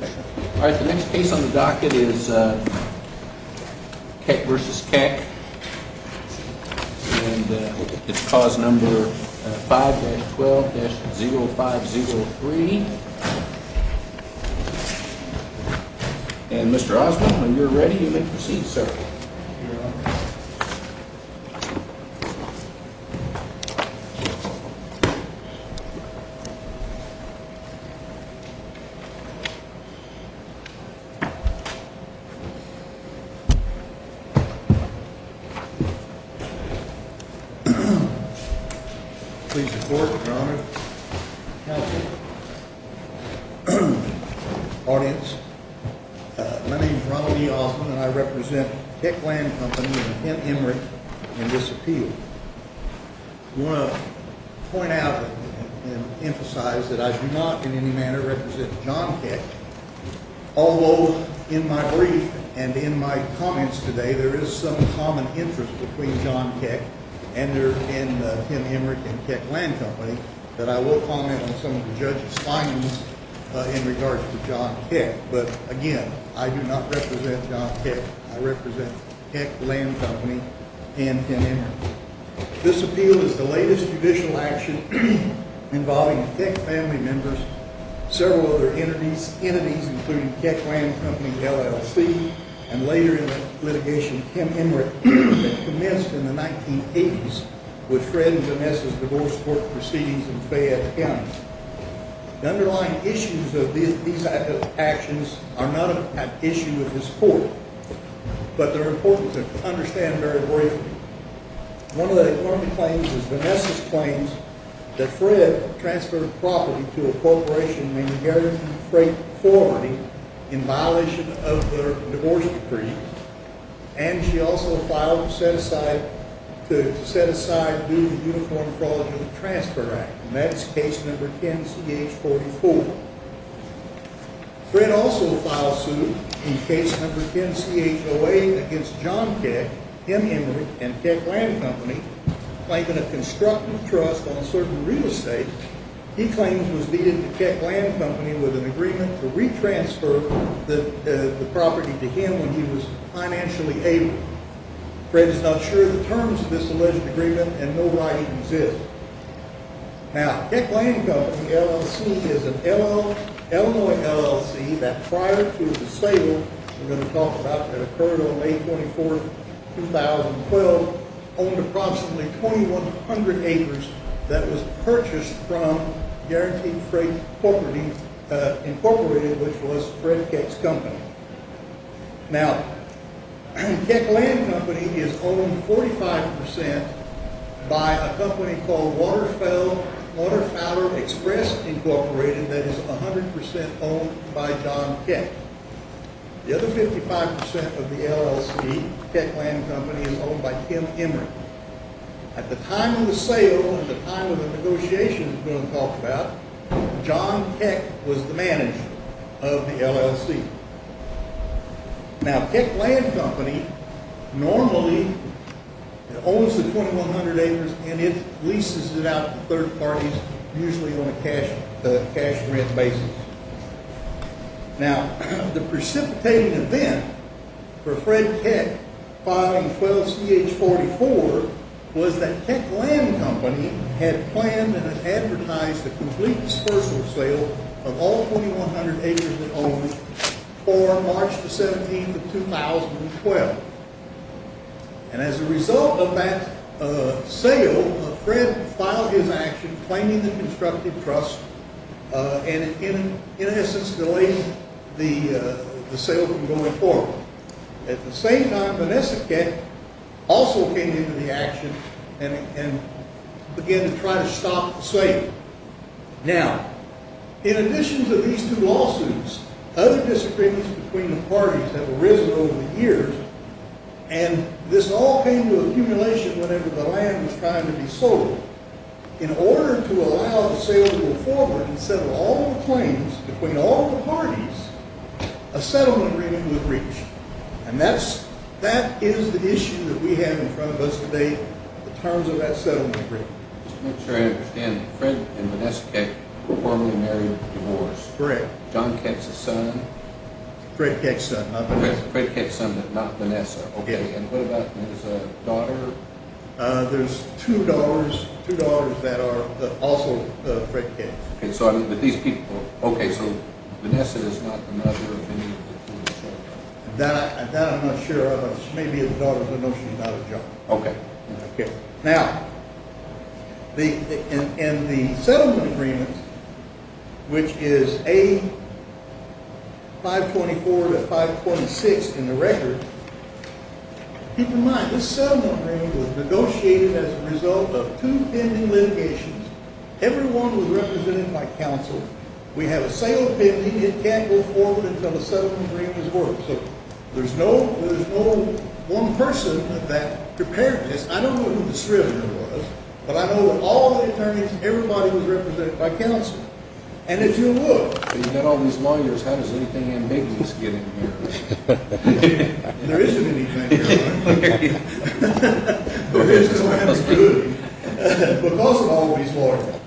All right, the next case on the docket is Keck v. Keck, and it's clause number 5-12-0503. And Mr. Oswald, when you're ready, you may proceed, sir. Please report, Your Honor. Audience, my name is Ronald E. Oswald, and I represent Keck Land Company and Kent Emory in this appeal. I want to point out and emphasize that I do not in any manner represent John Keck, although in my brief and in my comments today, there is some common interest between John Keck and Kent Emory and Keck Land Company that I will comment on some of the judge's findings in regards to John Keck. But again, I do not represent John Keck. I represent Keck Land Company and Kent Emory. This appeal is the latest judicial action involving Keck family members, several other entities, including Keck Land Company LLC, and later in litigation, Kent Emory, that commenced in the 1980s with Fred and Vanessa's divorce proceedings in Fayette County. The underlying issues of these actions are not an issue of this court, but they're important to understand very briefly. One of the important claims is Vanessa's claims that Fred transferred property to a corporation in the area of freight forwarding in violation of their divorce decree, and she also filed to set aside to do the Uniform Fraud and Transfer Act, and that's case number 10-CH-44. Fred also filed suit in case number 10-CH-08 against John Keck, Kent Emory, and Keck Land Company, claiming a constructive trust on certain real estate. He claims was needed to Keck Land Company with an agreement to re-transfer the property to him when he was financially able. Fred is not sure of the terms of this alleged agreement and no writings exist. Now, Keck Land Company LLC is an Illinois LLC that prior to the sale we're going to talk about that occurred on May 24, 2012, owned approximately 2,100 acres that was purchased from Guaranteed Freight Incorporated, which was Fred Keck's company. Now, Keck Land Company is owned 45% by a company called Waterfowler Express Incorporated that is 100% owned by John Keck. The other 55% of the LLC, Keck Land Company, is owned by Kent Emory. At the time of the sale and the time of the negotiations we're going to talk about, John Keck was the manager of the LLC. Now, Keck Land Company normally owns the 2,100 acres and it leases it out to third parties, usually on a cash rent basis. Now, the precipitating event for Fred Keck filing 12-CH-44 was that Keck Land Company had planned and advertised a complete dispersal sale of all 2,100 acres it owned for March 17, 2012. And as a result of that sale, Fred filed his action claiming the constructive trust and in essence delaying the sale from going forward. At the same time, Vanessa Keck also came into the action and began to try to stop the sale. Now, in addition to these two lawsuits, other disagreements between the parties have arisen over the years. And this all came to accumulation whenever the land was trying to be sold. In order to allow the sale to go forward and settle all the claims between all the parties, a settlement agreement was reached. And that is the issue that we have in front of us today in terms of that settlement agreement. Just to make sure I understand, Fred and Vanessa Keck were formerly married and divorced. Correct. John Keck's son? Fred Keck's son, not Vanessa. Fred Keck's son, but not Vanessa. Okay. And what about his daughter? There's two daughters that are also Fred Keck's. Okay, so Vanessa is not the mother of any of the two daughters? That I'm not sure of. It may be the daughter, but no, she's not his daughter. Okay. Now, in the settlement agreement, which is A524-526 in the record, keep in mind this settlement agreement was negotiated as a result of two pending litigations. Every one was represented by counsel. We have a sale pending. It can't go forward until the settlement agreement is over. So there's no one person that prepared this. I don't know who the scrivener was, but I know all the attorneys, everybody was represented by counsel. And if you look, you've got all these lawyers, how does anything in me just get in here? There isn't anything, right? There is because I have a good, because of all these lawyers.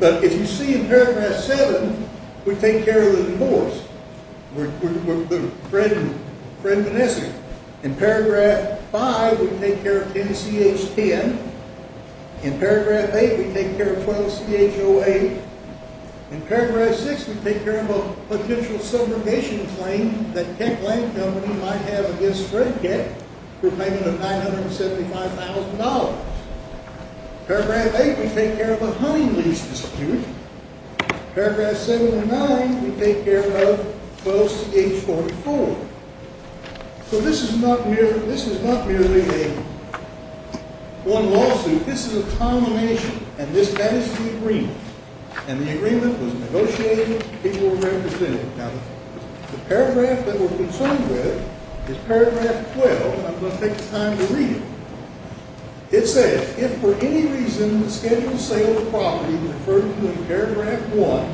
But if you see in paragraph seven, we take care of the divorce. We're the friend minister. In paragraph five, we take care of 10CH10. In paragraph eight, we take care of 12CH08. In paragraph six, we take care of a potential subrogation claim that Keck Land Company might have against Fred Keck for payment of $975,000. Paragraph eight, we take care of a hunting lease dispute. Paragraph seven and nine, we take care of close to H44. So this is not merely a one lawsuit. This is a combination, and that is the agreement. And the agreement was negotiated, people were represented. Now, the paragraph that we're concerned with is paragraph 12. I'm going to take the time to read it. It says, if for any reason the scheduled sale of the property referred to in paragraph one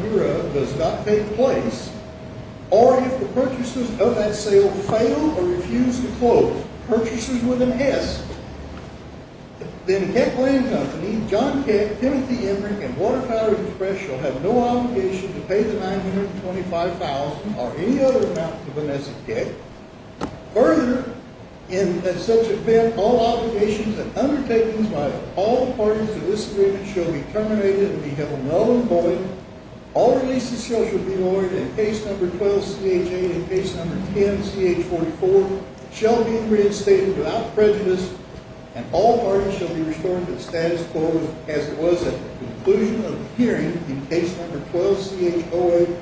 does not take place, or if the purchasers of that sale fail or refuse to close purchases with an HESC, then Keck Land Company, John Keck, Timothy Emrick, and Water Power Express shall have no obligation to pay the $925,000 or any other amount to Vanessa Keck. Further, in such an event, all obligations and undertakings by all parties to this agreement shall be terminated and be held null and void. All releases shall be lowered in case number 12-CHA and case number 10-CH44, shall be reinstated without prejudice, and all parties shall be restored to the status quo as it was at the conclusion of the hearing in case number 12-CHOA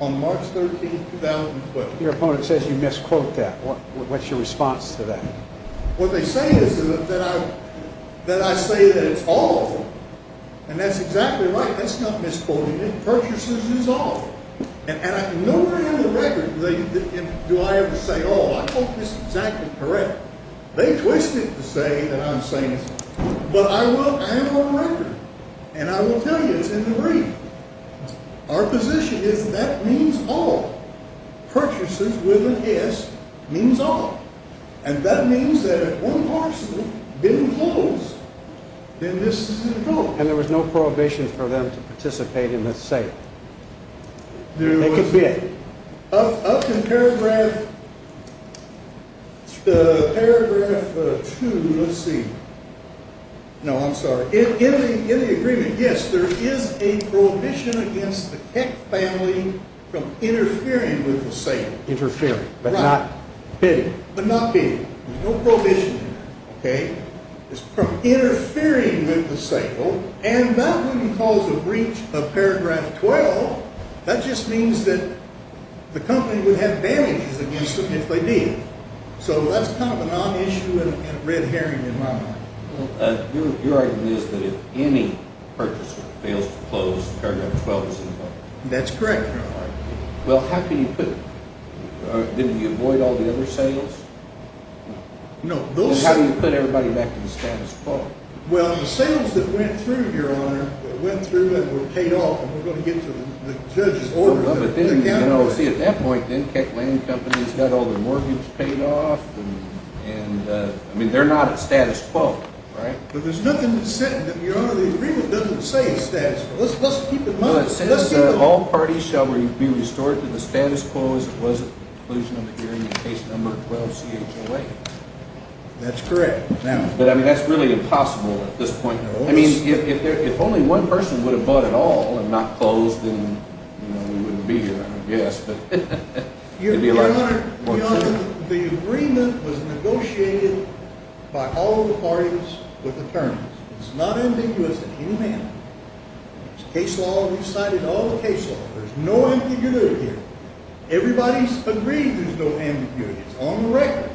on March 13, 2012. Your opponent says you misquote that. What's your response to that? What they say is that I say that it's all, and that's exactly right. That's not misquoting it. Purchases is all. And nowhere in the record do I ever say all. I hope this is exactly correct. They twist it to say that I'm saying it's all, but I am on record, and I will tell you it's in the read. Our position is that that means all. Purchases with an S means all. And that means that if one parcel being closed, then this is an adult. And there was no prohibition for them to participate in the site? There was. Up in paragraph 2, let's see. No, I'm sorry. In the agreement, yes, there is a prohibition against the Keck family from interfering with the sale. Interfering, but not bidding. But not bidding. There's no prohibition there, okay? It's from interfering with the sale, and that wouldn't cause a breach of paragraph 12. That just means that the company would have damages against them if they did. So that's kind of a non-issue and a red herring in my mind. Your argument is that if any purchaser fails to close, paragraph 12 is involved. That's correct, Your Honor. Well, how can you put – didn't you avoid all the other sales? No. How do you put everybody back in the status quo? Well, the sales that went through, Your Honor, went through and were paid off, and we're going to get to the judge's order. Well, but then, you know, see, at that point, then Keck Land Company's got all the mortgage paid off, and, I mean, they're not a status quo, right? But there's nothing that says – Your Honor, the agreement doesn't say a status quo. Let's keep in mind – No, it says that all parties shall be restored to the status quo as it was at the conclusion of the hearing in case number 12-C-H-O-A. That's correct. But, I mean, that's really impossible at this point. I mean, if only one person would have bought it all and not closed, then we wouldn't be here, I guess. Your Honor, Your Honor, the agreement was negotiated by all the parties with attorneys. It's not ambiguous in any manner. It's case law. We've cited all the case law. There's no ambiguity here. Everybody's agreed there's no ambiguity. It's on the record.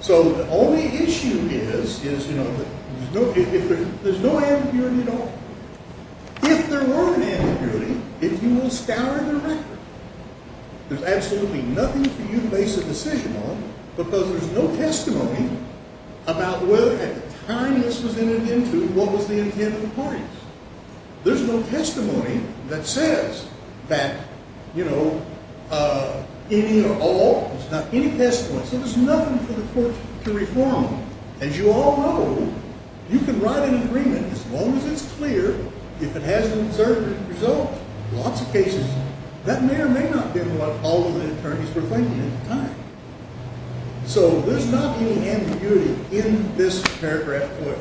So the only issue is, you know, there's no ambiguity at all. If there were an ambiguity, if you will scour the record, there's absolutely nothing for you to base a decision on because there's no testimony about whether at the time this was entered into, what was the intent of the parties. There's no testimony that says that, you know, any or all – not any testimony. So there's nothing for the court to reform. As you all know, you can write an agreement as long as it's clear, if it has an observant result, lots of cases. That may or may not be what all of the attorneys were thinking at the time. So there's not any ambiguity in this paragraph here.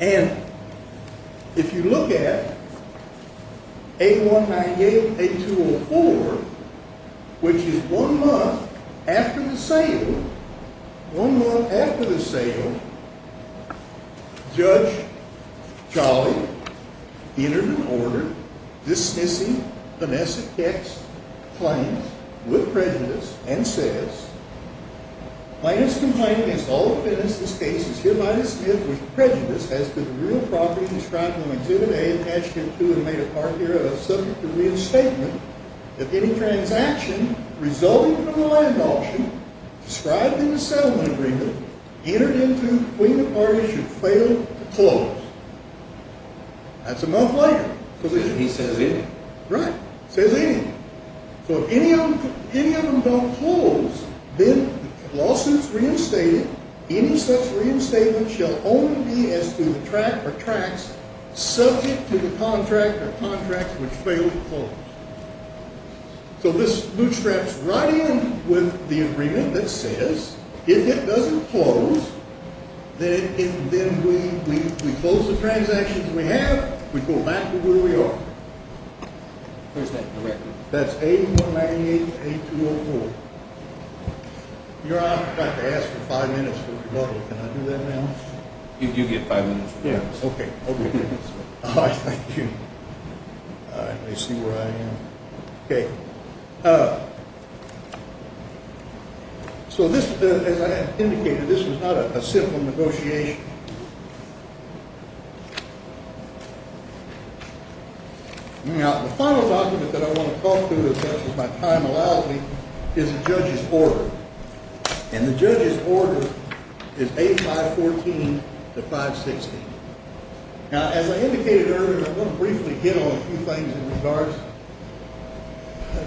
And if you look at 8198, 8204, which is one month after the sale, one month after the sale, Judge Charlie entered and ordered dismissing Vanessa Keck's claims with prejudice and says, Minus complaint against all defendants, this case is hereby dismissed with prejudice as to the real property described in Exhibit A and Attachment 2 and made a part here of subject to reinstatement if any transaction resulting from the land auction described in the settlement agreement entered into between the parties should fail to close. That's a month later. He says anything. Right. Says anything. So if any of them don't close, then the lawsuit's reinstated. Any such reinstatement shall only be as to the tract or tracts subject to the contract or contracts which fail to close. So this bootstraps right in with the agreement that says if it doesn't close, then we close the transactions we have. We go back to where we are. Where's that in the record? That's 8198, 8204. Your Honor, I'd like to ask for five minutes for rebuttal. Can I do that now? You do get five minutes for rebuttal. Okay. Let me see where I am. Okay. So this, as I indicated, this was not a simple negotiation. Now, the final document that I want to talk to as much as my time allows me is the judge's order. And the judge's order is 8514 to 560. Now, as I indicated earlier, I want to briefly get on a few things in regards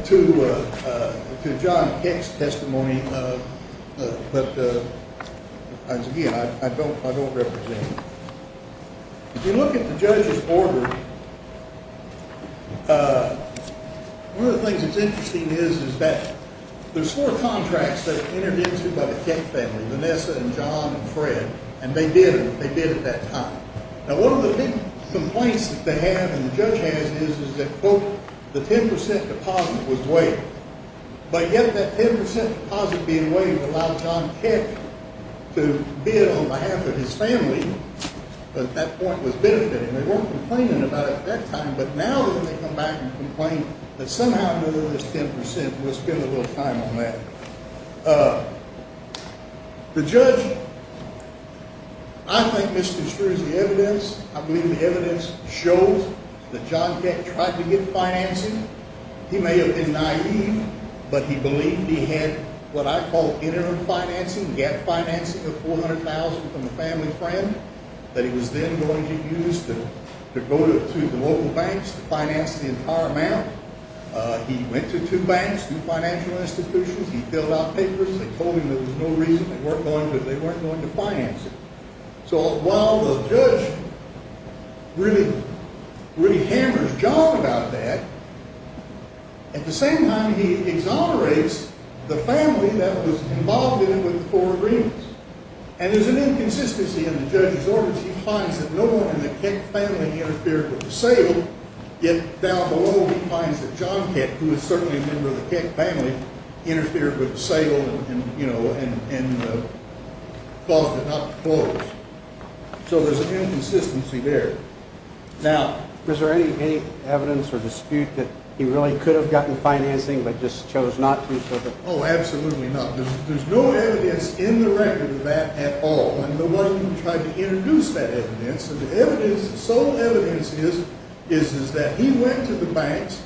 to John Keck's testimony. But, again, I don't represent him. If you look at the judge's order, one of the things that's interesting is that there's four contracts that are entered into by the Keck family, Vanessa and John and Fred, and they did what they did at that time. Now, one of the big complaints that they have and the judge has is that, quote, the 10 percent deposit was waived. But yet that 10 percent deposit being waived allowed John Keck to bid on behalf of his family, but that point was benefited, and they weren't complaining about it at that time. But now that they come back and complain that somehow there was 10 percent, we'll spend a little time on that. The judge, I think, misconstrues the evidence. I believe the evidence shows that John Keck tried to get financing. He may have been naive, but he believed he had what I call interim financing, gap financing of $400,000 from a family friend, that he was then going to use to go to the local banks to finance the entire amount. He went to two banks, two financial institutions. He filled out papers. They told him there was no reason. They weren't going to finance it. So while the judge really hammers John about that, at the same time, he exonerates the family that was involved in it with the four agreements. And there's an inconsistency in the judge's orders. He finds that no one in the Keck family interfered with the sale, yet down below he finds that John Keck, who was certainly a member of the Keck family, interfered with the sale and caused it not to close. So there's an inconsistency there. Now, is there any evidence or dispute that he really could have gotten financing but just chose not to? Oh, absolutely not. There's no evidence in the record of that at all. And nobody tried to introduce that evidence. The evidence, the sole evidence is that he went to the banks,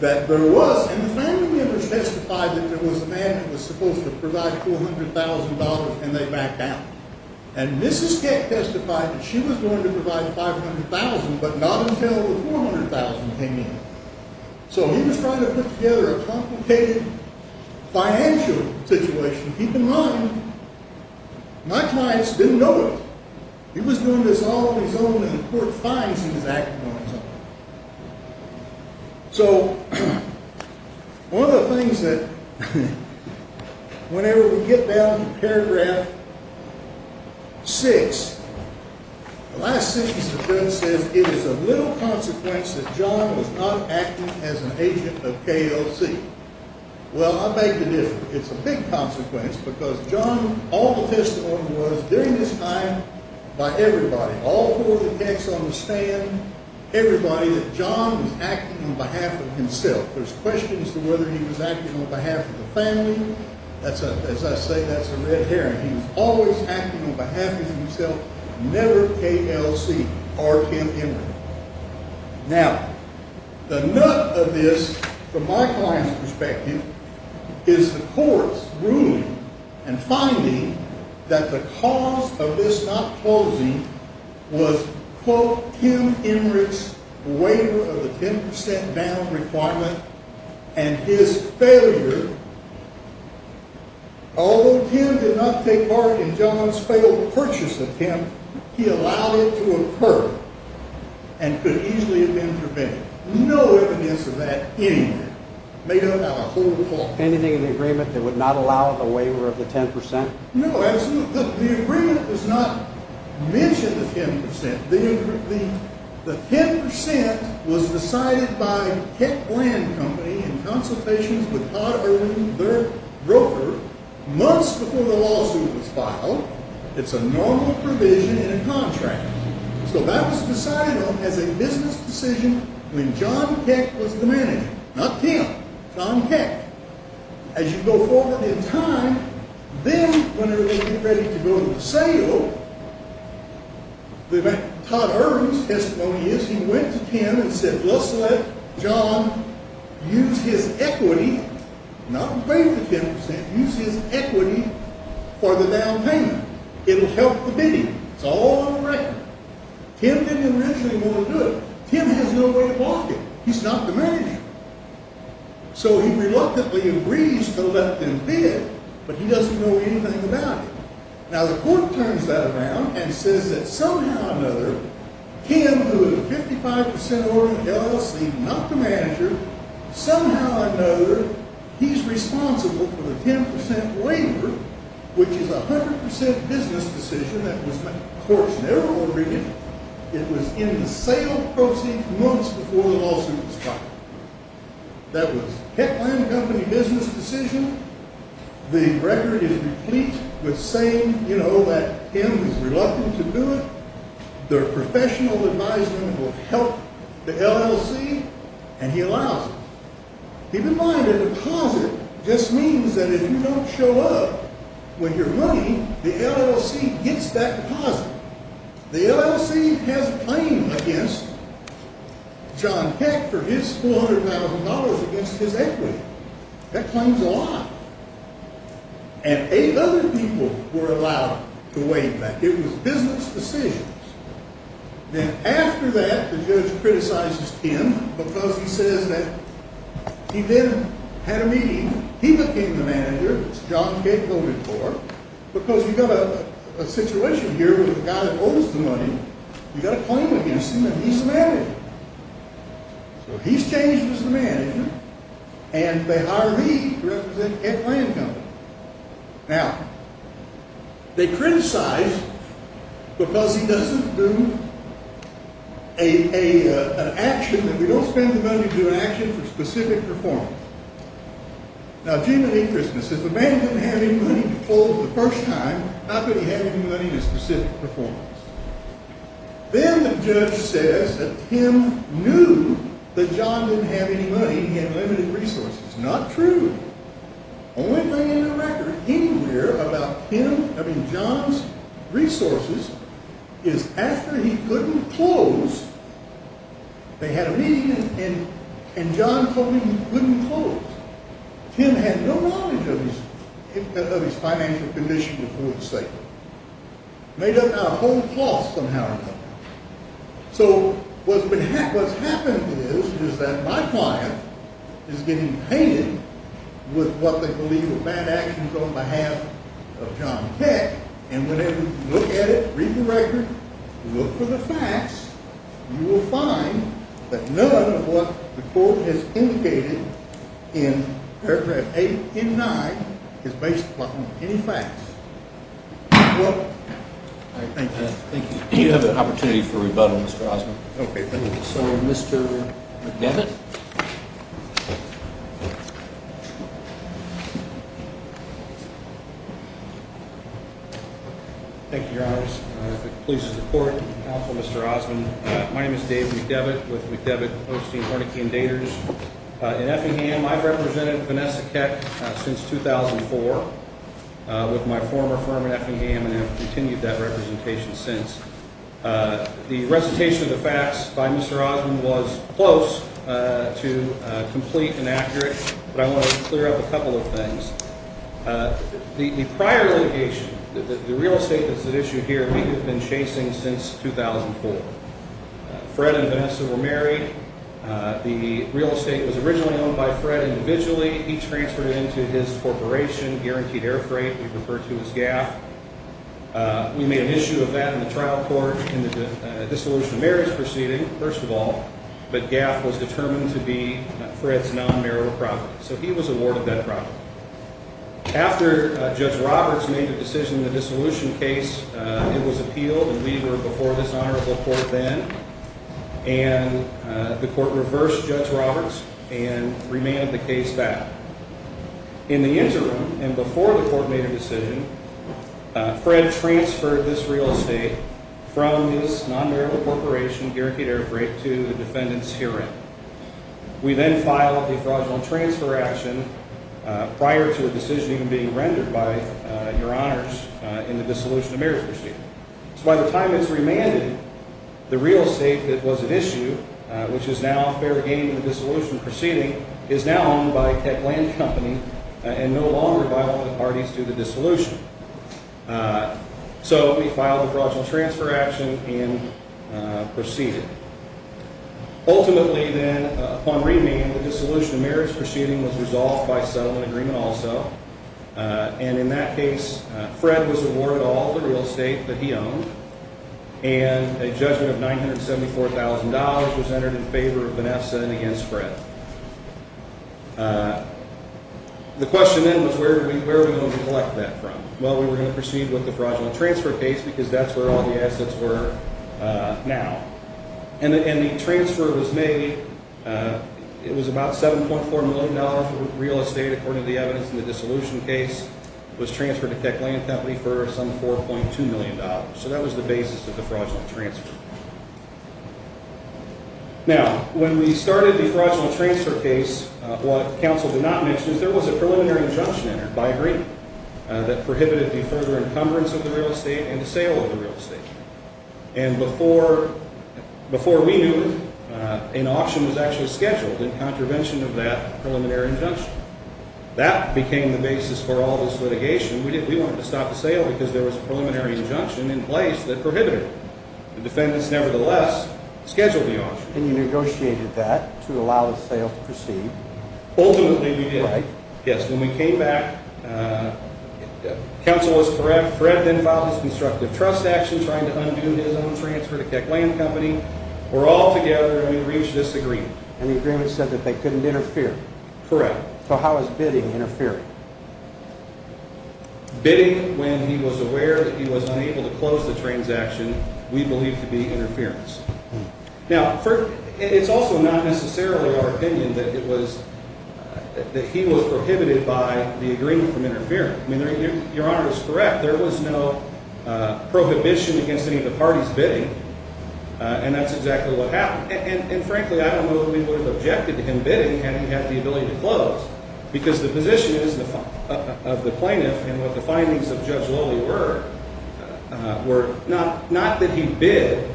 that there was, and the family members testified that there was a man who was supposed to provide $400,000, and they backed out. And Mrs. Keck testified that she was going to provide $500,000 but not until the $400,000 came in. So he was trying to put together a complicated financial situation. Keep in mind, my clients didn't know it. He was doing this all on his own, and the court finds he was acting on his own. So one of the things that whenever we get down to paragraph 6, the last sentence of the book says, it is of little consequence that John was not acting as an agent of KOC. Well, I'll make the difference. It's a big consequence because John, all the testimony was, during this time, by everybody, all four of the decks on the stand, everybody, that John was acting on behalf of himself. There's questions to whether he was acting on behalf of the family. As I say, that's a red herring. He was always acting on behalf of himself, never KLC or Tim Emmerich. Now, the nut of this, from my client's perspective, is the court's ruling and finding that the cause of this not closing was, quote, Tim Emmerich's waiver of the 10% bail requirement and his failure. Although Tim did not take part in John's failed purchase attempt, he allowed it to occur and could easily have been prevented. No evidence of that anywhere. Made up out of whole cloth. Anything in the agreement that would not allow the waiver of the 10%? No, absolutely not. The agreement does not mention the 10%. The 10% was decided by Keck Land Company in consultations with Todd Irwin, their broker, months before the lawsuit was filed. It's a normal provision in a contract. So that was decided on as a business decision when John Keck was the manager. Not Tim, John Keck. As you go forward in time, then when they were getting ready to go to the sale, the Todd Irwin's testimony is he went to Tim and said, Let's let John use his equity, not pay the 10%, use his equity for the down payment. It'll help the bidding. It's all on the record. Tim didn't initially want to do it. Tim has no way of blocking it. He's not the manager. So he reluctantly agrees to let them bid, but he doesn't know anything about it. Now, the court turns that around and says that somehow or another, Tim, who is a 55% ordering LLC, not the manager, somehow or another, he's responsible for the 10% waiver, which is a 100% business decision that was the court's narrow agreement. It was in the sale proceed months before the lawsuit was filed. That was Keck Land Company business decision. The record is complete with saying that Tim is reluctant to do it. Their professional advisement will help the LLC, and he allows it. Keep in mind, a deposit just means that if you don't show up with your money, the LLC gets that deposit. The LLC has a claim against John Keck for his $400,000 against his equity. That claims a lot. And eight other people were allowed to waive that. It was business decisions. Then after that, the judge criticizes Tim because he says that he then had a meeting. He became the manager, as John Keck voted for, because you've got a situation here with a guy that owes the money. So he's changed as the manager, and they hire me to represent Keck Land Company. Now, they criticize because he doesn't do an action, and we don't spend the money to do an action for specific performance. Now, gee, believe Christmas. If a man doesn't have any money to fold for the first time, how could he have any money for specific performance? Then the judge says that Tim knew that John didn't have any money. He had limited resources. It's not true. The only thing in the record anywhere about John's resources is after he couldn't close, they had a meeting, and John told him he couldn't close. Tim had no knowledge of his financial condition, if you will, to say. It made up our whole cost somehow or another. So what's happened is that my client is getting painted with what they believe are bad actions on behalf of John Keck, and whenever you look at it, read the record, look for the facts, you will find that none of what the court has indicated in paragraph 8 and 9 is based upon any facts. Thank you. Do you have an opportunity for rebuttal, Mr. Osmond? Okay. Thank you, Your Honor. Please support counsel Mr. Osmond. My name is Dave McDevitt with McDevitt Hosting Hornikeen Daters in Effingham. I've represented Vanessa Keck since 2004 with my former firm in Effingham, and I've continued that representation since. The recitation of the facts by Mr. Osmond was close to complete and accurate, but I want to clear up a couple of things. The prior litigation, the real estate that's at issue here, we have been chasing since 2004. Fred and Vanessa were married. The real estate was originally owned by Fred individually. He transferred it into his corporation, Guaranteed Air Freight. We refer to it as GAF. We made an issue of that in the trial court in the dissolution of marriage proceeding, first of all, but GAF was determined to be Fred's non-marital property, so he was awarded that property. After Judge Roberts made the decision in the dissolution case, it was appealed, and we were before this honorable court then, and the court reversed Judge Roberts and remanded the case back. In the interim and before the court made a decision, Fred transferred this real estate from his non-marital corporation, Guaranteed Air Freight, to the defendant's hearing. We then filed a fraudulent transfer action prior to a decision even being rendered by Your Honors in the dissolution of marriage proceeding. So by the time it's remanded, the real estate that was at issue, which is now fair game in the dissolution proceeding, is now owned by Tech Land Company and no longer by all the parties to the dissolution. So we filed a fraudulent transfer action and proceeded. Ultimately then, upon remand, the dissolution of marriage proceeding was resolved by settlement agreement also, and in that case, Fred was awarded all the real estate that he owned, and a judgment of $974,000 was entered in favor of Vanessa and against Fred. The question then was where are we going to collect that from? Well, we were going to proceed with the fraudulent transfer case because that's where all the assets were now. And the transfer was made. It was about $7.4 million for real estate, according to the evidence in the dissolution case. It was transferred to Tech Land Company for some $4.2 million. So that was the basis of the fraudulent transfer. Now, when we started the fraudulent transfer case, what counsel did not mention is there was a preliminary injunction entered by agreement that prohibited the further encumbrance of the real estate and the sale of the real estate. And before we knew it, an auction was actually scheduled in contravention of that preliminary injunction. That became the basis for all this litigation. We wanted to stop the sale because there was a preliminary injunction in place that prohibited it. The defendants, nevertheless, scheduled the auction. And you negotiated that to allow the sale to proceed? Ultimately, we did. Right. Yes, when we came back, counsel was correct. Fred then filed his constructive trust action trying to undo his own transfer to Tech Land Company. We're all together and we reached this agreement. And the agreement said that they couldn't interfere? Correct. So how is bidding interfering? Bidding, when he was aware that he was unable to close the transaction, we believe to be interference. Now, it's also not necessarily our opinion that he was prohibited by the agreement from interfering. I mean, Your Honor is correct. There was no prohibition against any of the parties bidding, and that's exactly what happened. And frankly, I don't know that we would have objected to him bidding had he had the ability to close because the position of the plaintiff and what the findings of Judge Lowley were, not that he bid,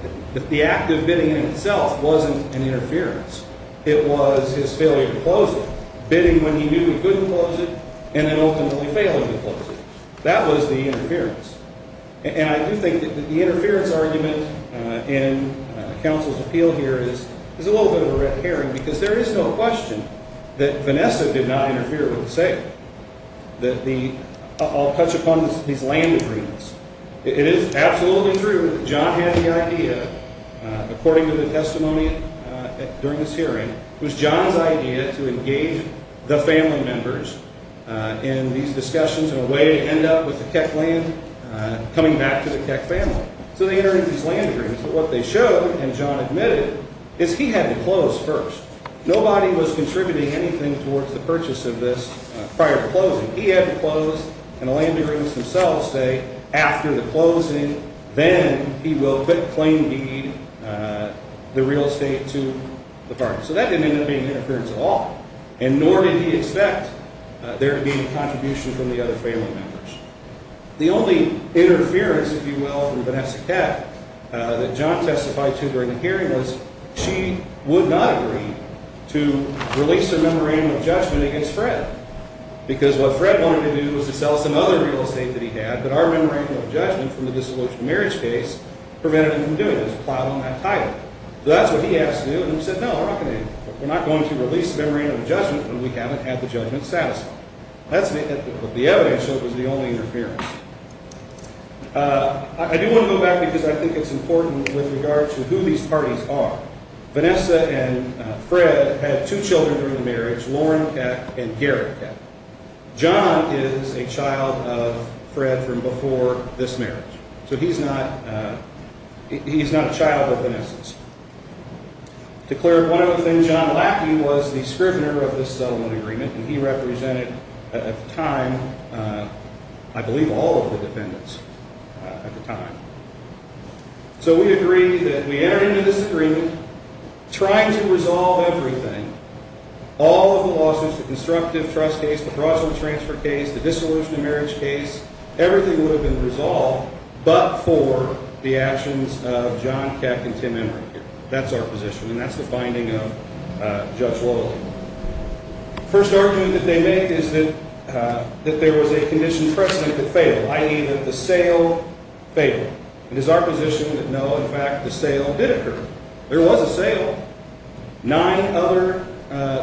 the act of bidding in itself wasn't an interference. It was his failure to close it. Bidding when he knew he couldn't close it, and then ultimately failing to close it. That was the interference. And I do think that the interference argument in counsel's appeal here is a little bit of a red herring because there is no question that Vanessa did not interfere with the sale. I'll touch upon these land agreements. It is absolutely true that John had the idea, according to the testimony during this hearing, it was John's idea to engage the family members in these discussions in a way to end up with the Keck land coming back to the Keck family. So they entered into these land agreements. But what they showed, and John admitted, is he had to close first. Nobody was contributing anything towards the purchase of this prior to closing. He had to close, and the land agreements themselves say after the closing, then he will claim the real estate to the firm. So that didn't end up being interference at all, and nor did he expect there to be any contribution from the other family members. The only interference, if you will, from Vanessa Keck that John testified to during the hearing was she would not agree to release the memorandum of judgment against Fred because what Fred wanted to do was to sell us another real estate that he had, but our memorandum of judgment from the disillusioned marriage case prevented him from doing it. It was a plow on that title. So that's what he asked to do, and he said, no, we're not going to release the memorandum of judgment when we haven't had the judgment satisfied. That's the evidence, so it was the only interference. I do want to go back because I think it's important with regards to who these parties are. Vanessa and Fred had two children during the marriage, Lauren Keck and Gary Keck. John is a child of Fred from before this marriage, so he's not a child of Vanessa's. Declared one of the things, John Lackey was the scrivener of this settlement agreement, and he represented at the time I believe all of the defendants at the time. So we agreed that we entered into this agreement trying to resolve everything, all of the lawsuits, the constructive trust case, the fraudulent transfer case, the disillusioned marriage case, everything would have been resolved, but for the actions of John Keck and Tim Emmerich. That's our position, and that's the finding of Judge Loyalty. The first argument that they make is that there was a condition precedent that failed, i.e. that the sale failed. It is our position that no, in fact, the sale did occur. There was a sale. Nine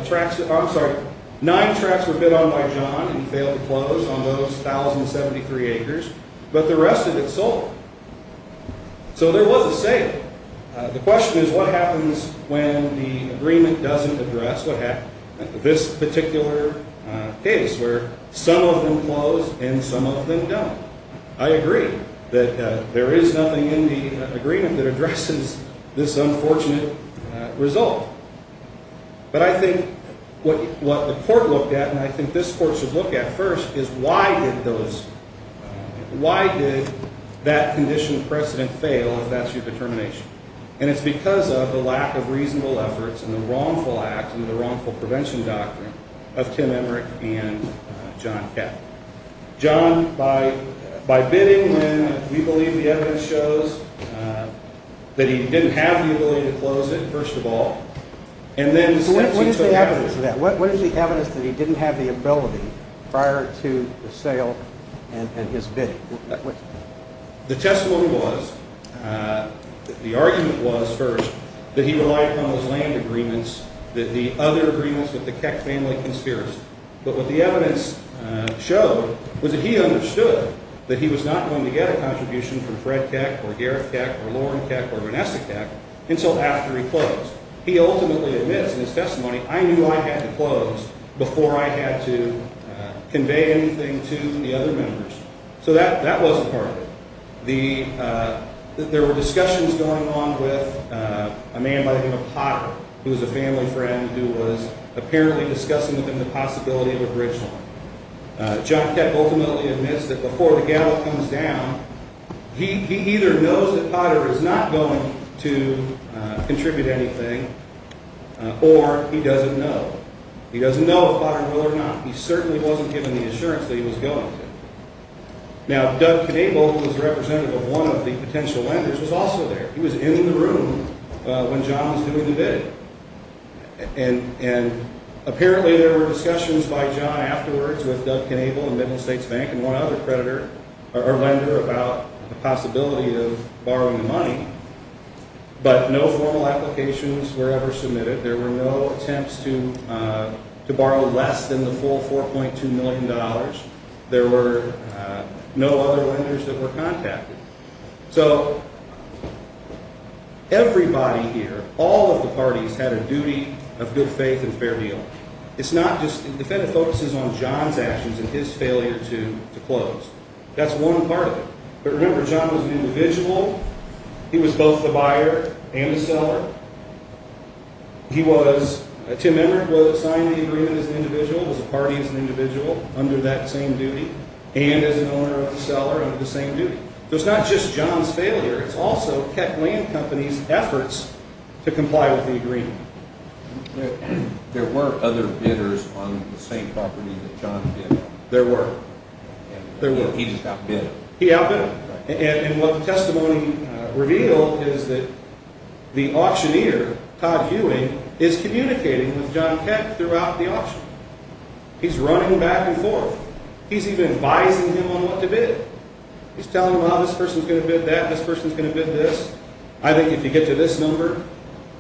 tracks were bid on by John, and he failed to close on those 1,073 acres, but the rest of it sold. So there was a sale. The question is what happens when the agreement doesn't address this particular case where some of them close and some of them don't. I agree that there is nothing in the agreement that addresses this unfortunate result, but I think what the court looked at, and I think this court should look at first, is why did that condition precedent fail if that's your determination? And it's because of the lack of reasonable efforts and the wrongful act and the wrongful prevention doctrine of Tim Emmerich and John Keck. John, by bidding when we believe the evidence shows that he didn't have the ability to close it, first of all, and then since he took action. What is the evidence of that? What is the evidence that he didn't have the ability prior to the sale and his bidding? The testimony was, the argument was first, that he relied upon those land agreements, the other agreements with the Keck family conspiracy. But what the evidence showed was that he understood that he was not going to get a contribution from Fred Keck or Gareth Keck or Lauren Keck or Vanessa Keck until after he closed. He ultimately admits in his testimony, I knew I had to close before I had to convey anything to the other members. So that wasn't part of it. There were discussions going on with a man by the name of Potter, who was a family friend who was apparently discussing with him the possibility of a bridge loan. John Keck ultimately admits that before the gallows comes down, he either knows that Potter is not going to contribute anything or he doesn't know. He doesn't know if Potter will or not. He certainly wasn't given the assurance that he was going to. Now, Doug Knabel, who was representative of one of the potential lenders, was also there. He was in the room when John was doing the bid. And apparently there were discussions by John afterwards with Doug Knabel and Middle States Bank and one other lender about the possibility of borrowing the money. But no formal applications were ever submitted. There were no attempts to borrow less than the full $4.2 million. There were no other lenders that were contacted. So everybody here, all of the parties, had a duty of good faith and fair deal. It's not justóthe Fed focuses on John's actions and his failure to close. That's one part of it. But remember, John was an individual. He was both the buyer and the seller. He wasóTim Emmerich was assigned to the agreement as an individual, was a party as an individual under that same duty, and as an owner of the seller under the same duty. So it's not just John's failure. It's also Keck Land Company's efforts to comply with the agreement. There were other bidders on the same property that John bid on. There were. He just outbid them. He outbid them. And what the testimony revealed is that the auctioneer, Todd Hewing, is communicating with John Keck throughout the auction. He's running back and forth. He's even advising him on what to bid. He's telling him, ah, this person's going to bid that, this person's going to bid this. I think if you get to this number,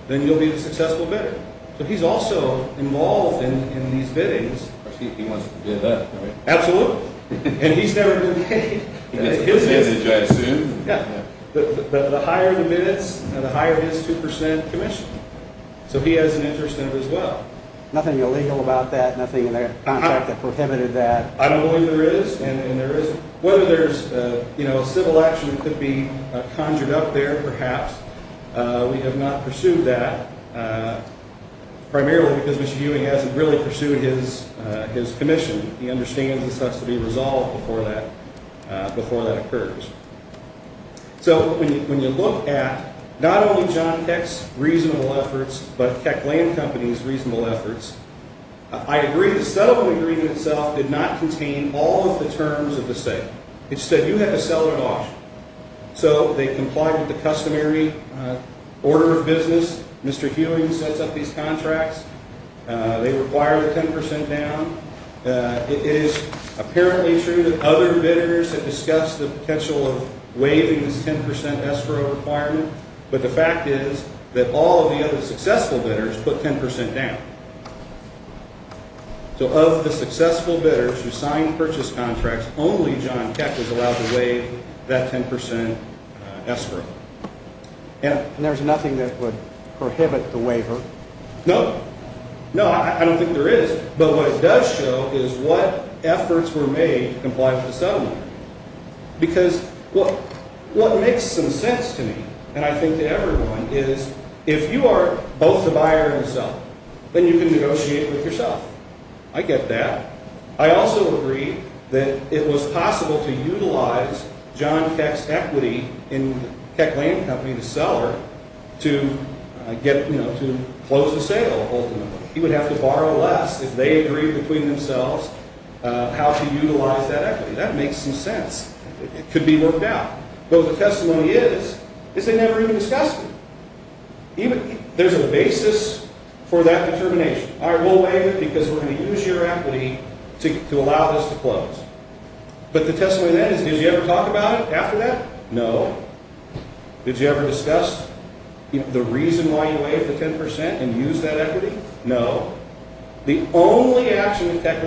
then you'll be a successful bidder. So he's also involved in these biddings. He wants to bid that, right? Absolutely. And he's never been paid. He gets a percentage, I assume. Yeah. The higher the minutes, the higher his 2% commission. So he has an interest in it as well. Nothing illegal about that? Nothing in their contract that prohibited that? I don't know if there is, and there isn't. Whether there's a civil action that could be conjured up there, perhaps. We have not pursued that. Primarily because Mr. Hewing hasn't really pursued his commission. He understands this has to be resolved before that occurs. So when you look at not only John Keck's reasonable efforts, but Keck Land Company's reasonable efforts, I agree the settlement agreement itself did not contain all of the terms of the sale. It said you have to sell it at auction. So they complied with the customary order of business. Mr. Hewing sets up these contracts. They require the 10% down. It is apparently true that other bidders have discussed the potential of waiving this 10% escrow requirement, but the fact is that all of the other successful bidders put 10% down. So of the successful bidders who signed purchase contracts, only John Keck was allowed to waive that 10% escrow. And there's nothing that would prohibit the waiver? No. No, I don't think there is. But what it does show is what efforts were made to comply with the settlement. Because what makes some sense to me, and I think to everyone, is if you are both the buyer and the seller, then you can negotiate with yourself. I get that. I also agree that it was possible to utilize John Keck's equity in Keck Land Company to sell her, to close the sale, ultimately. He would have to borrow less if they agreed between themselves how to utilize that equity. That makes some sense. It could be worked out. But what the testimony is, is they never even discussed it. There's a basis for that determination. I will waive it because we're going to use your equity to allow this to close. But the testimony then is did you ever talk about it after that? No. Did you ever discuss the reason why you waived the 10% and use that equity? No. The only action that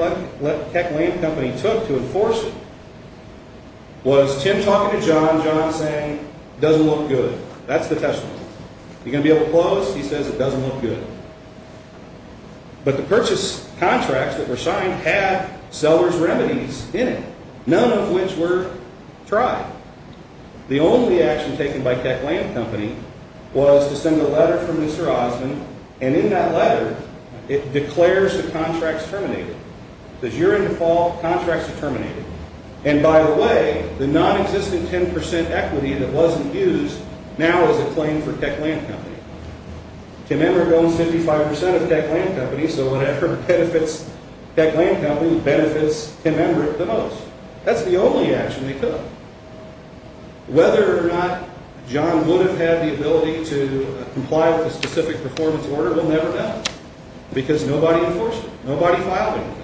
Keck Land Company took to enforce it was Tim talking to John, John saying it doesn't look good. That's the testimony. Are you going to be able to close? He says it doesn't look good. But the purchase contracts that were signed had seller's remedies in it, none of which were tried. The only action taken by Keck Land Company was to send a letter from Mr. Osmond, and in that letter it declares the contracts terminated. It says you're in default, contracts are terminated. And by the way, the nonexistent 10% equity that wasn't used now is a claim for Keck Land Company. Tim Embert owns 55% of Keck Land Company, so whatever benefits Keck Land Company benefits Tim Embert the most. That's the only action they took. Whether or not John would have had the ability to comply with a specific performance order, we'll never know because nobody enforced it. Nobody filed anything.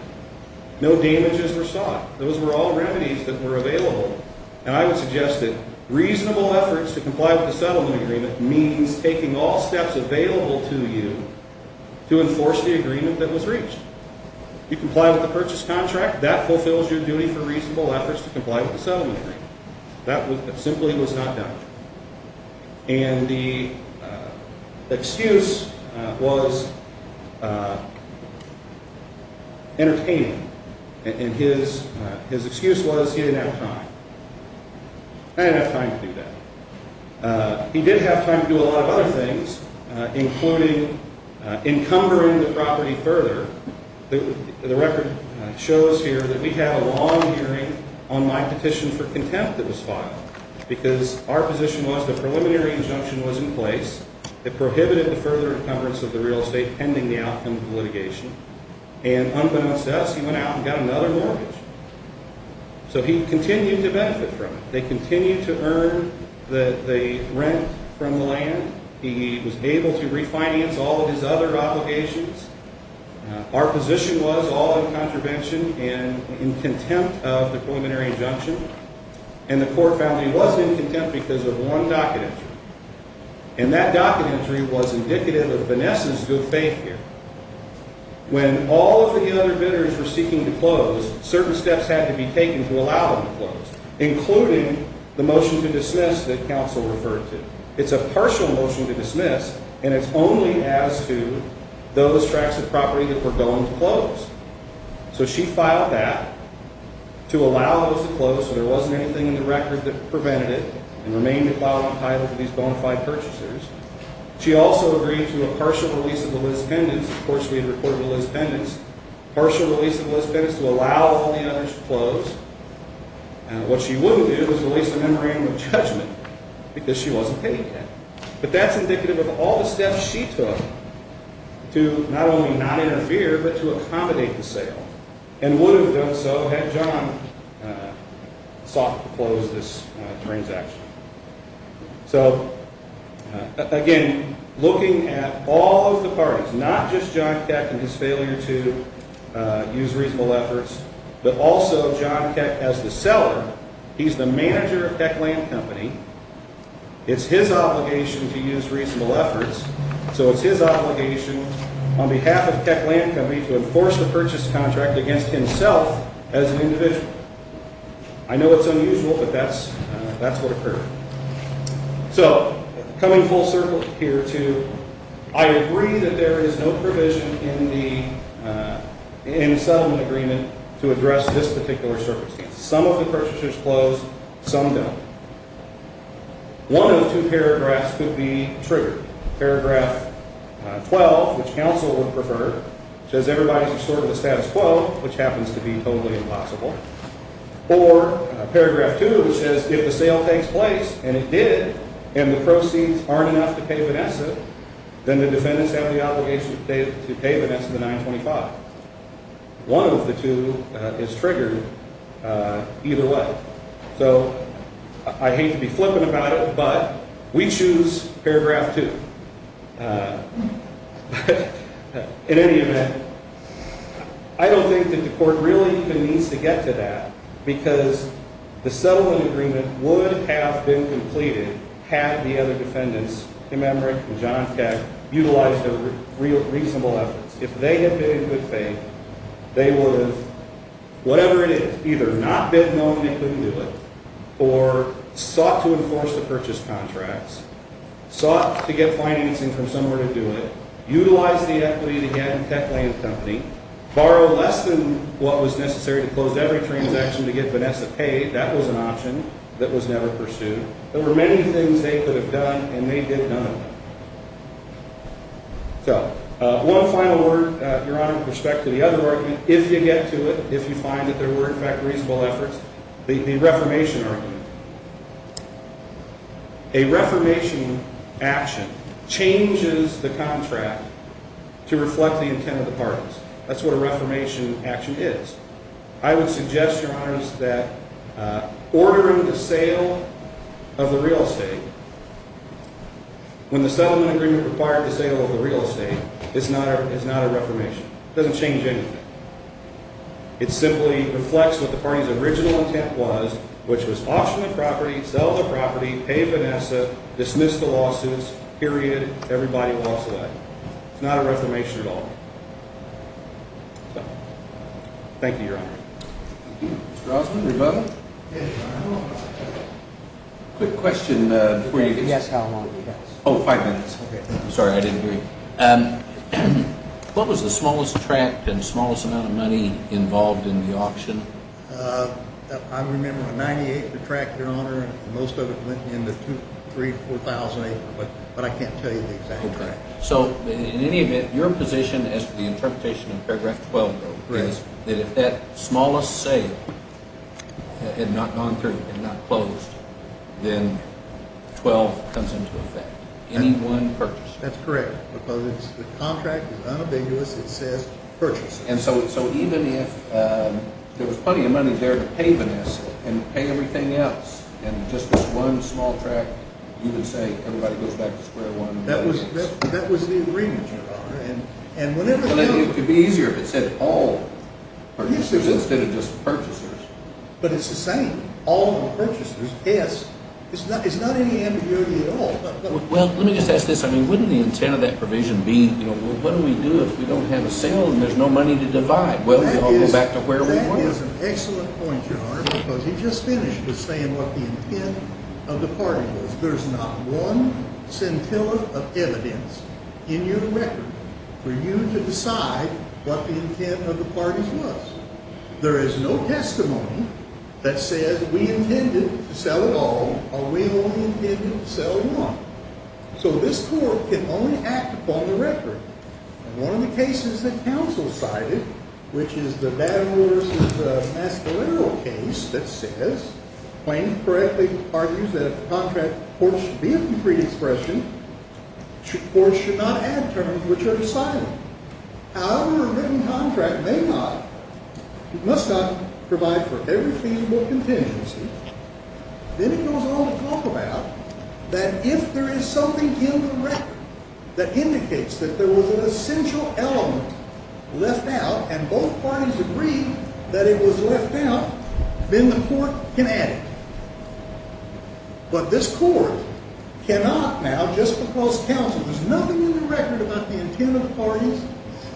No damages were sought. Those were all remedies that were available, and I would suggest that reasonable efforts to comply with the settlement agreement means taking all steps available to you to enforce the agreement that was reached. You comply with the purchase contract, that fulfills your duty for reasonable efforts to comply with the settlement agreement. That simply was not done. And the excuse was entertaining, and his excuse was he didn't have time. I didn't have time to do that. He did have time to do a lot of other things, including encumbering the property further. The record shows here that we had a long hearing on my petition for contempt that was filed because our position was the preliminary injunction was in place. It prohibited the further encumbrance of the real estate pending the outcome of the litigation, and unbeknownst to us, he went out and got another mortgage. So he continued to benefit from it. They continued to earn the rent from the land. He was able to refinance all of his other obligations. Our position was all in contravention and in contempt of the preliminary injunction, and the court found that he was in contempt because of one docket entry, and that docket entry was indicative of Vanessa's good faith here. When all of the other bidders were seeking to close, certain steps had to be taken to allow them to close, including the motion to dismiss that counsel referred to. It's a partial motion to dismiss, and it's only as to those tracts of property that were going to close. So she filed that to allow those to close so there wasn't anything in the record that prevented it and remained to file the title for these bona fide purchasers. She also agreed to a partial release of the Liz pendants. Of course, we had reported the Liz pendants. Partial release of the Liz pendants to allow all the others to close, and what she wouldn't do is release a memorandum of judgment because she wasn't paying that. But that's indicative of all the steps she took to not only not interfere but to accommodate the sale and would have done so had John sought to close this transaction. So, again, looking at all of the parties, not just John Keck and his failure to use reasonable efforts, but also John Keck as the seller. He's the manager of Techland Company. It's his obligation to use reasonable efforts, so it's his obligation on behalf of Techland Company to enforce the purchase contract against himself as an individual. I know it's unusual, but that's what occurred. So coming full circle here to I agree that there is no provision in the settlement agreement to address this particular circumstance. Some of the purchasers closed, some don't. One of the two paragraphs could be triggered. Paragraph 12, which counsel would prefer, says everybody's restored to the status quo, which happens to be totally impossible. Or paragraph 2, which says if the sale takes place, and it did, and the proceeds aren't enough to pay Vanessa, then the defendants have the obligation to pay Vanessa the 925. One of the two is triggered either way. So I hate to be flippant about it, but we choose paragraph 2. In any event, I don't think that the court really even needs to get to that, because the settlement agreement would have been completed had the other defendants, Kim Emmerich and John Keck, utilized their reasonable efforts. If they had been in good faith, they would have, whatever it is, either not bid no and they couldn't do it, or sought to enforce the purchase contracts, sought to get financing from somewhere to do it, utilized the equity to get a tech-land company, borrowed less than what was necessary to close every transaction to get Vanessa paid. That was an option that was never pursued. There were many things they could have done, and they did none of them. So one final word, Your Honor, with respect to the other argument, if you get to it, if you find that there were, in fact, reasonable efforts, the reformation argument. A reformation action changes the contract to reflect the intent of the parties. That's what a reformation action is. I would suggest, Your Honor, that ordering the sale of the real estate, when the settlement agreement required the sale of the real estate, is not a reformation. It doesn't change anything. It simply reflects what the party's original intent was, which was auction the property, sell the property, pay Vanessa, dismiss the lawsuits, period. Everybody lost that. It's not a reformation at all. Thank you, Your Honor. Thank you. Mr. Rossman, your mother? Yes, Your Honor. Quick question before you begin. You can guess how long it is. Oh, five minutes. Okay. I'm sorry, I didn't hear you. What was the smallest tract and smallest amount of money involved in the auction? I remember the 98th tract, Your Honor, and most of it went in the 3,000, 4,000 acre, but I can't tell you the exact tract. So in any event, your position as to the interpretation of paragraph 12, though, is that if that smallest sale had not gone through, had not closed, then 12 comes into effect. Any one purchase. That's correct, because the contract is unambiguous. It says purchase. And so even if there was plenty of money there to pay Vanessa and pay everything else, and just this one small tract, you would say everybody goes back to square one? That was the agreement, Your Honor. It could be easier if it said all purchasers instead of just purchasers. But it's the same. All purchasers. Yes. It's not any ambiguity at all. Well, let me just ask this. I mean, wouldn't the intent of that provision be, you know, what do we do if we don't have a sale and there's no money to divide? Well, do we all go back to where we were? That is an excellent point, Your Honor, because he just finished with saying what the intent of the party was. There's not one scintilla of evidence in your record for you to decide what the intent of the parties was. There is no testimony that says we intended to sell it all or we only intended to sell one. So this court can only act upon the record. And one of the cases that counsel cited, which is the Battle v. Mascolero case that says, if the plaintiff correctly argues that a contract court should be a concrete expression or should not add terms which are decided, however a written contract may not, must not provide for every feasible contingency, then it goes on to talk about that if there is something in the record that indicates that there was an essential element left out and both parties agree that it was left out, then the court can add it. But this court cannot now, just because counsel, there's nothing in the record about the intent of the parties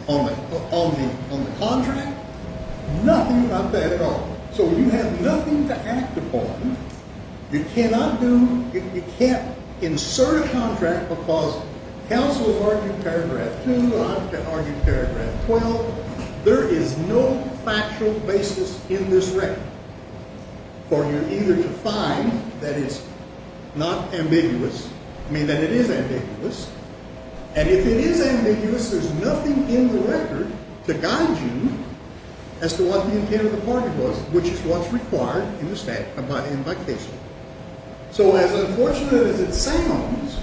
on the contract, nothing about that at all. So you have nothing to act upon. You cannot do, you can't insert a contract because counsel argued paragraph 2, I've argued paragraph 12. There is no factual basis in this record for you either to find that it's not ambiguous, I mean that it is ambiguous, and if it is ambiguous, there's nothing in the record to guide you as to what the intent of the party was, which is what's required in the statute, in my case. So as unfortunate as it sounds,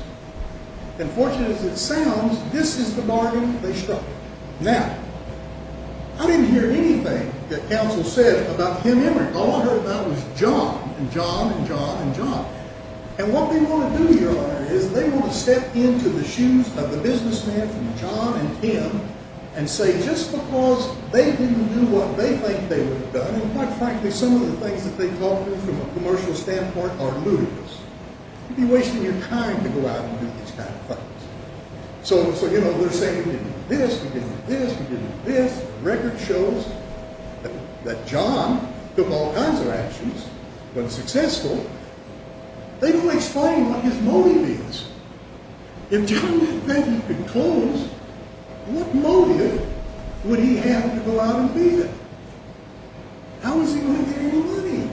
unfortunate as it sounds, this is the bargain they struck. Now, I didn't hear anything that counsel said about Kim Emmerich. All I heard about was John and John and John and John. And what they want to do here, Your Honor, is they want to step into the shoes of the businessman from John and Kim and say just because they didn't do what they think they would have done, and quite frankly, some of the things that they've offered from a commercial standpoint are ludicrous. You'd be wasting your time to go out and do these kind of things. So, you know, they're saying we did this, we did this, we did this, and the record shows that John took all kinds of actions but was successful. They don't explain what his motive is. If John Peck had been closed, what motive would he have to go out and be there? How is he going to get any money?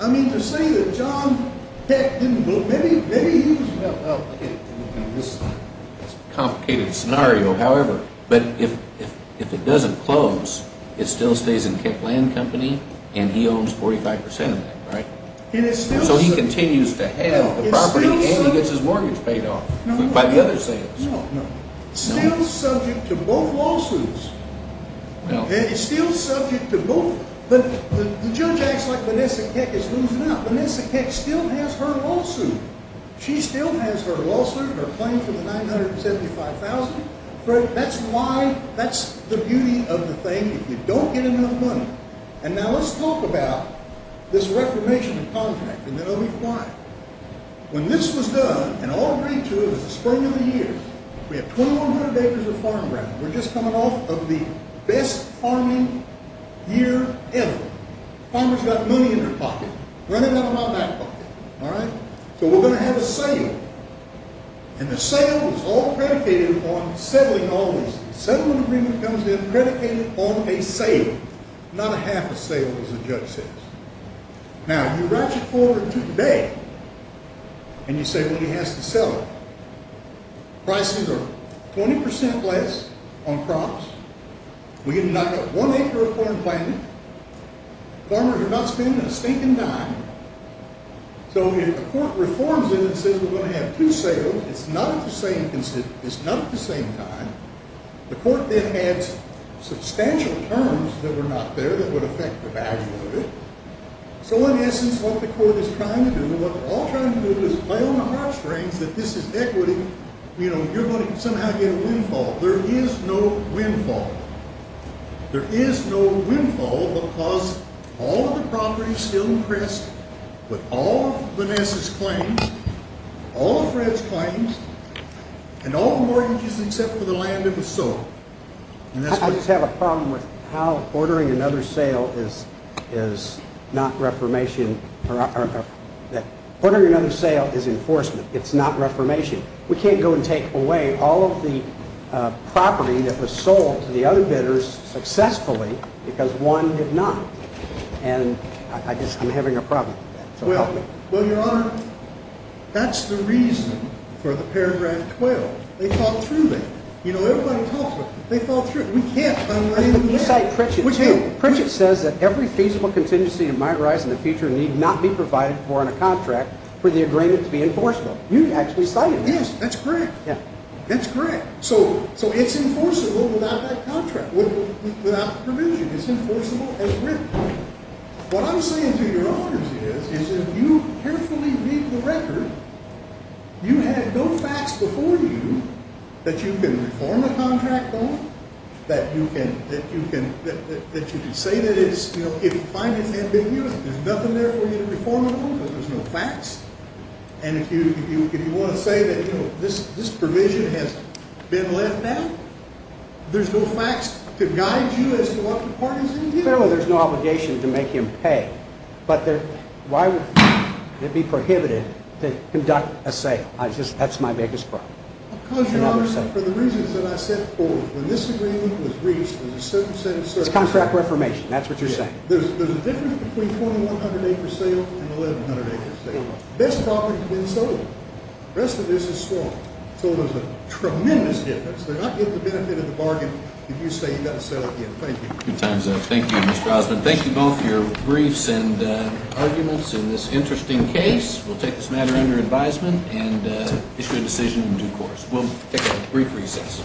I mean, to say that John Peck didn't go, maybe he was, well, okay, this is a complicated scenario, however, but if it doesn't close, it still stays in Peck Land Company and he owns 45 percent of that, right? So he continues to have the property and he gets his mortgage paid off by the other sales. Still subject to both lawsuits. It's still subject to both. The judge acts like Vanessa Keck is losing out. Vanessa Keck still has her lawsuit. She still has her lawsuit, her claim for the $975,000. That's why, that's the beauty of the thing. And now let's talk about this reformation of contract and then I'll be fine. When this was done, and I'll agree to it, it was the spring of the year. We have 2,100 acres of farmland. We're just coming off of the best farming year ever. Farmers got money in their pocket. Running out of my back pocket, all right? So we're going to have a sale. And the sale is all predicated on settling all these things. The settlement agreement comes in predicated on a sale. Not a half a sale, as the judge says. Now, you ratchet forward to today and you say, well, he has to settle. Prices are 20 percent less on crops. We didn't knock up one acre of farmland. Farmers are not spending a stinking dime. So if a court reforms it and says we're going to have two sales, it's not at the same time. The court then has substantial terms that were not there that would affect the value of it. So in essence, what the court is trying to do, what we're all trying to do is play on the heartstrings that this is equity. You know, you're going to somehow get a windfall. There is no windfall. There is no windfall because all of the property is still impressed with all of Vanessa's claims, all of Fred's claims, and all of the mortgages except for the land that was sold. I just have a problem with how ordering another sale is not reformation. Ordering another sale is enforcement. It's not reformation. We can't go and take away all of the property that was sold to the other bidders successfully because one did not. And I just am having a problem. So help me. Well, Your Honor, that's the reason for the paragraph 12. They thought through that. You know, everybody talks about it. They thought through it. We can't find a way to do that. You cite Pritchett, too. Pritchett says that every feasible contingency that might arise in the future need not be provided for in a contract for the agreement to be enforceable. You actually cited that. Yes, that's correct. That's correct. So it's enforceable without that contract, without the provision. It's enforceable as written. What I'm saying to Your Honors is if you carefully read the record, you had no facts before you that you can reform a contract on, that you can say that it's, you know, if you find it's ambiguous, there's nothing there for you to reform it on because there's no facts. And if you want to say that, you know, this provision has been left out, there's no facts to guide you as to what the part is in here. Fairly, there's no obligation to make him pay. But why would it be prohibited to conduct a sale? That's my biggest problem. Your Honors, for the reasons that I said before, when this agreement was reached, there was a certain set of circumstances. It's contract reformation. That's what you're saying. There's a difference between 4,100-acre sale and 1,100-acre sale. The best property has been sold. The rest of this is sworn. So there's a tremendous difference. They're not going to get the benefit of the bargain if you say you've got to sell it again. Thank you. Good times out. Thank you, Mr. Osmond. Thank you both for your briefs and arguments in this interesting case. We'll take this matter under advisement and issue a decision in due course. We'll take a brief recess.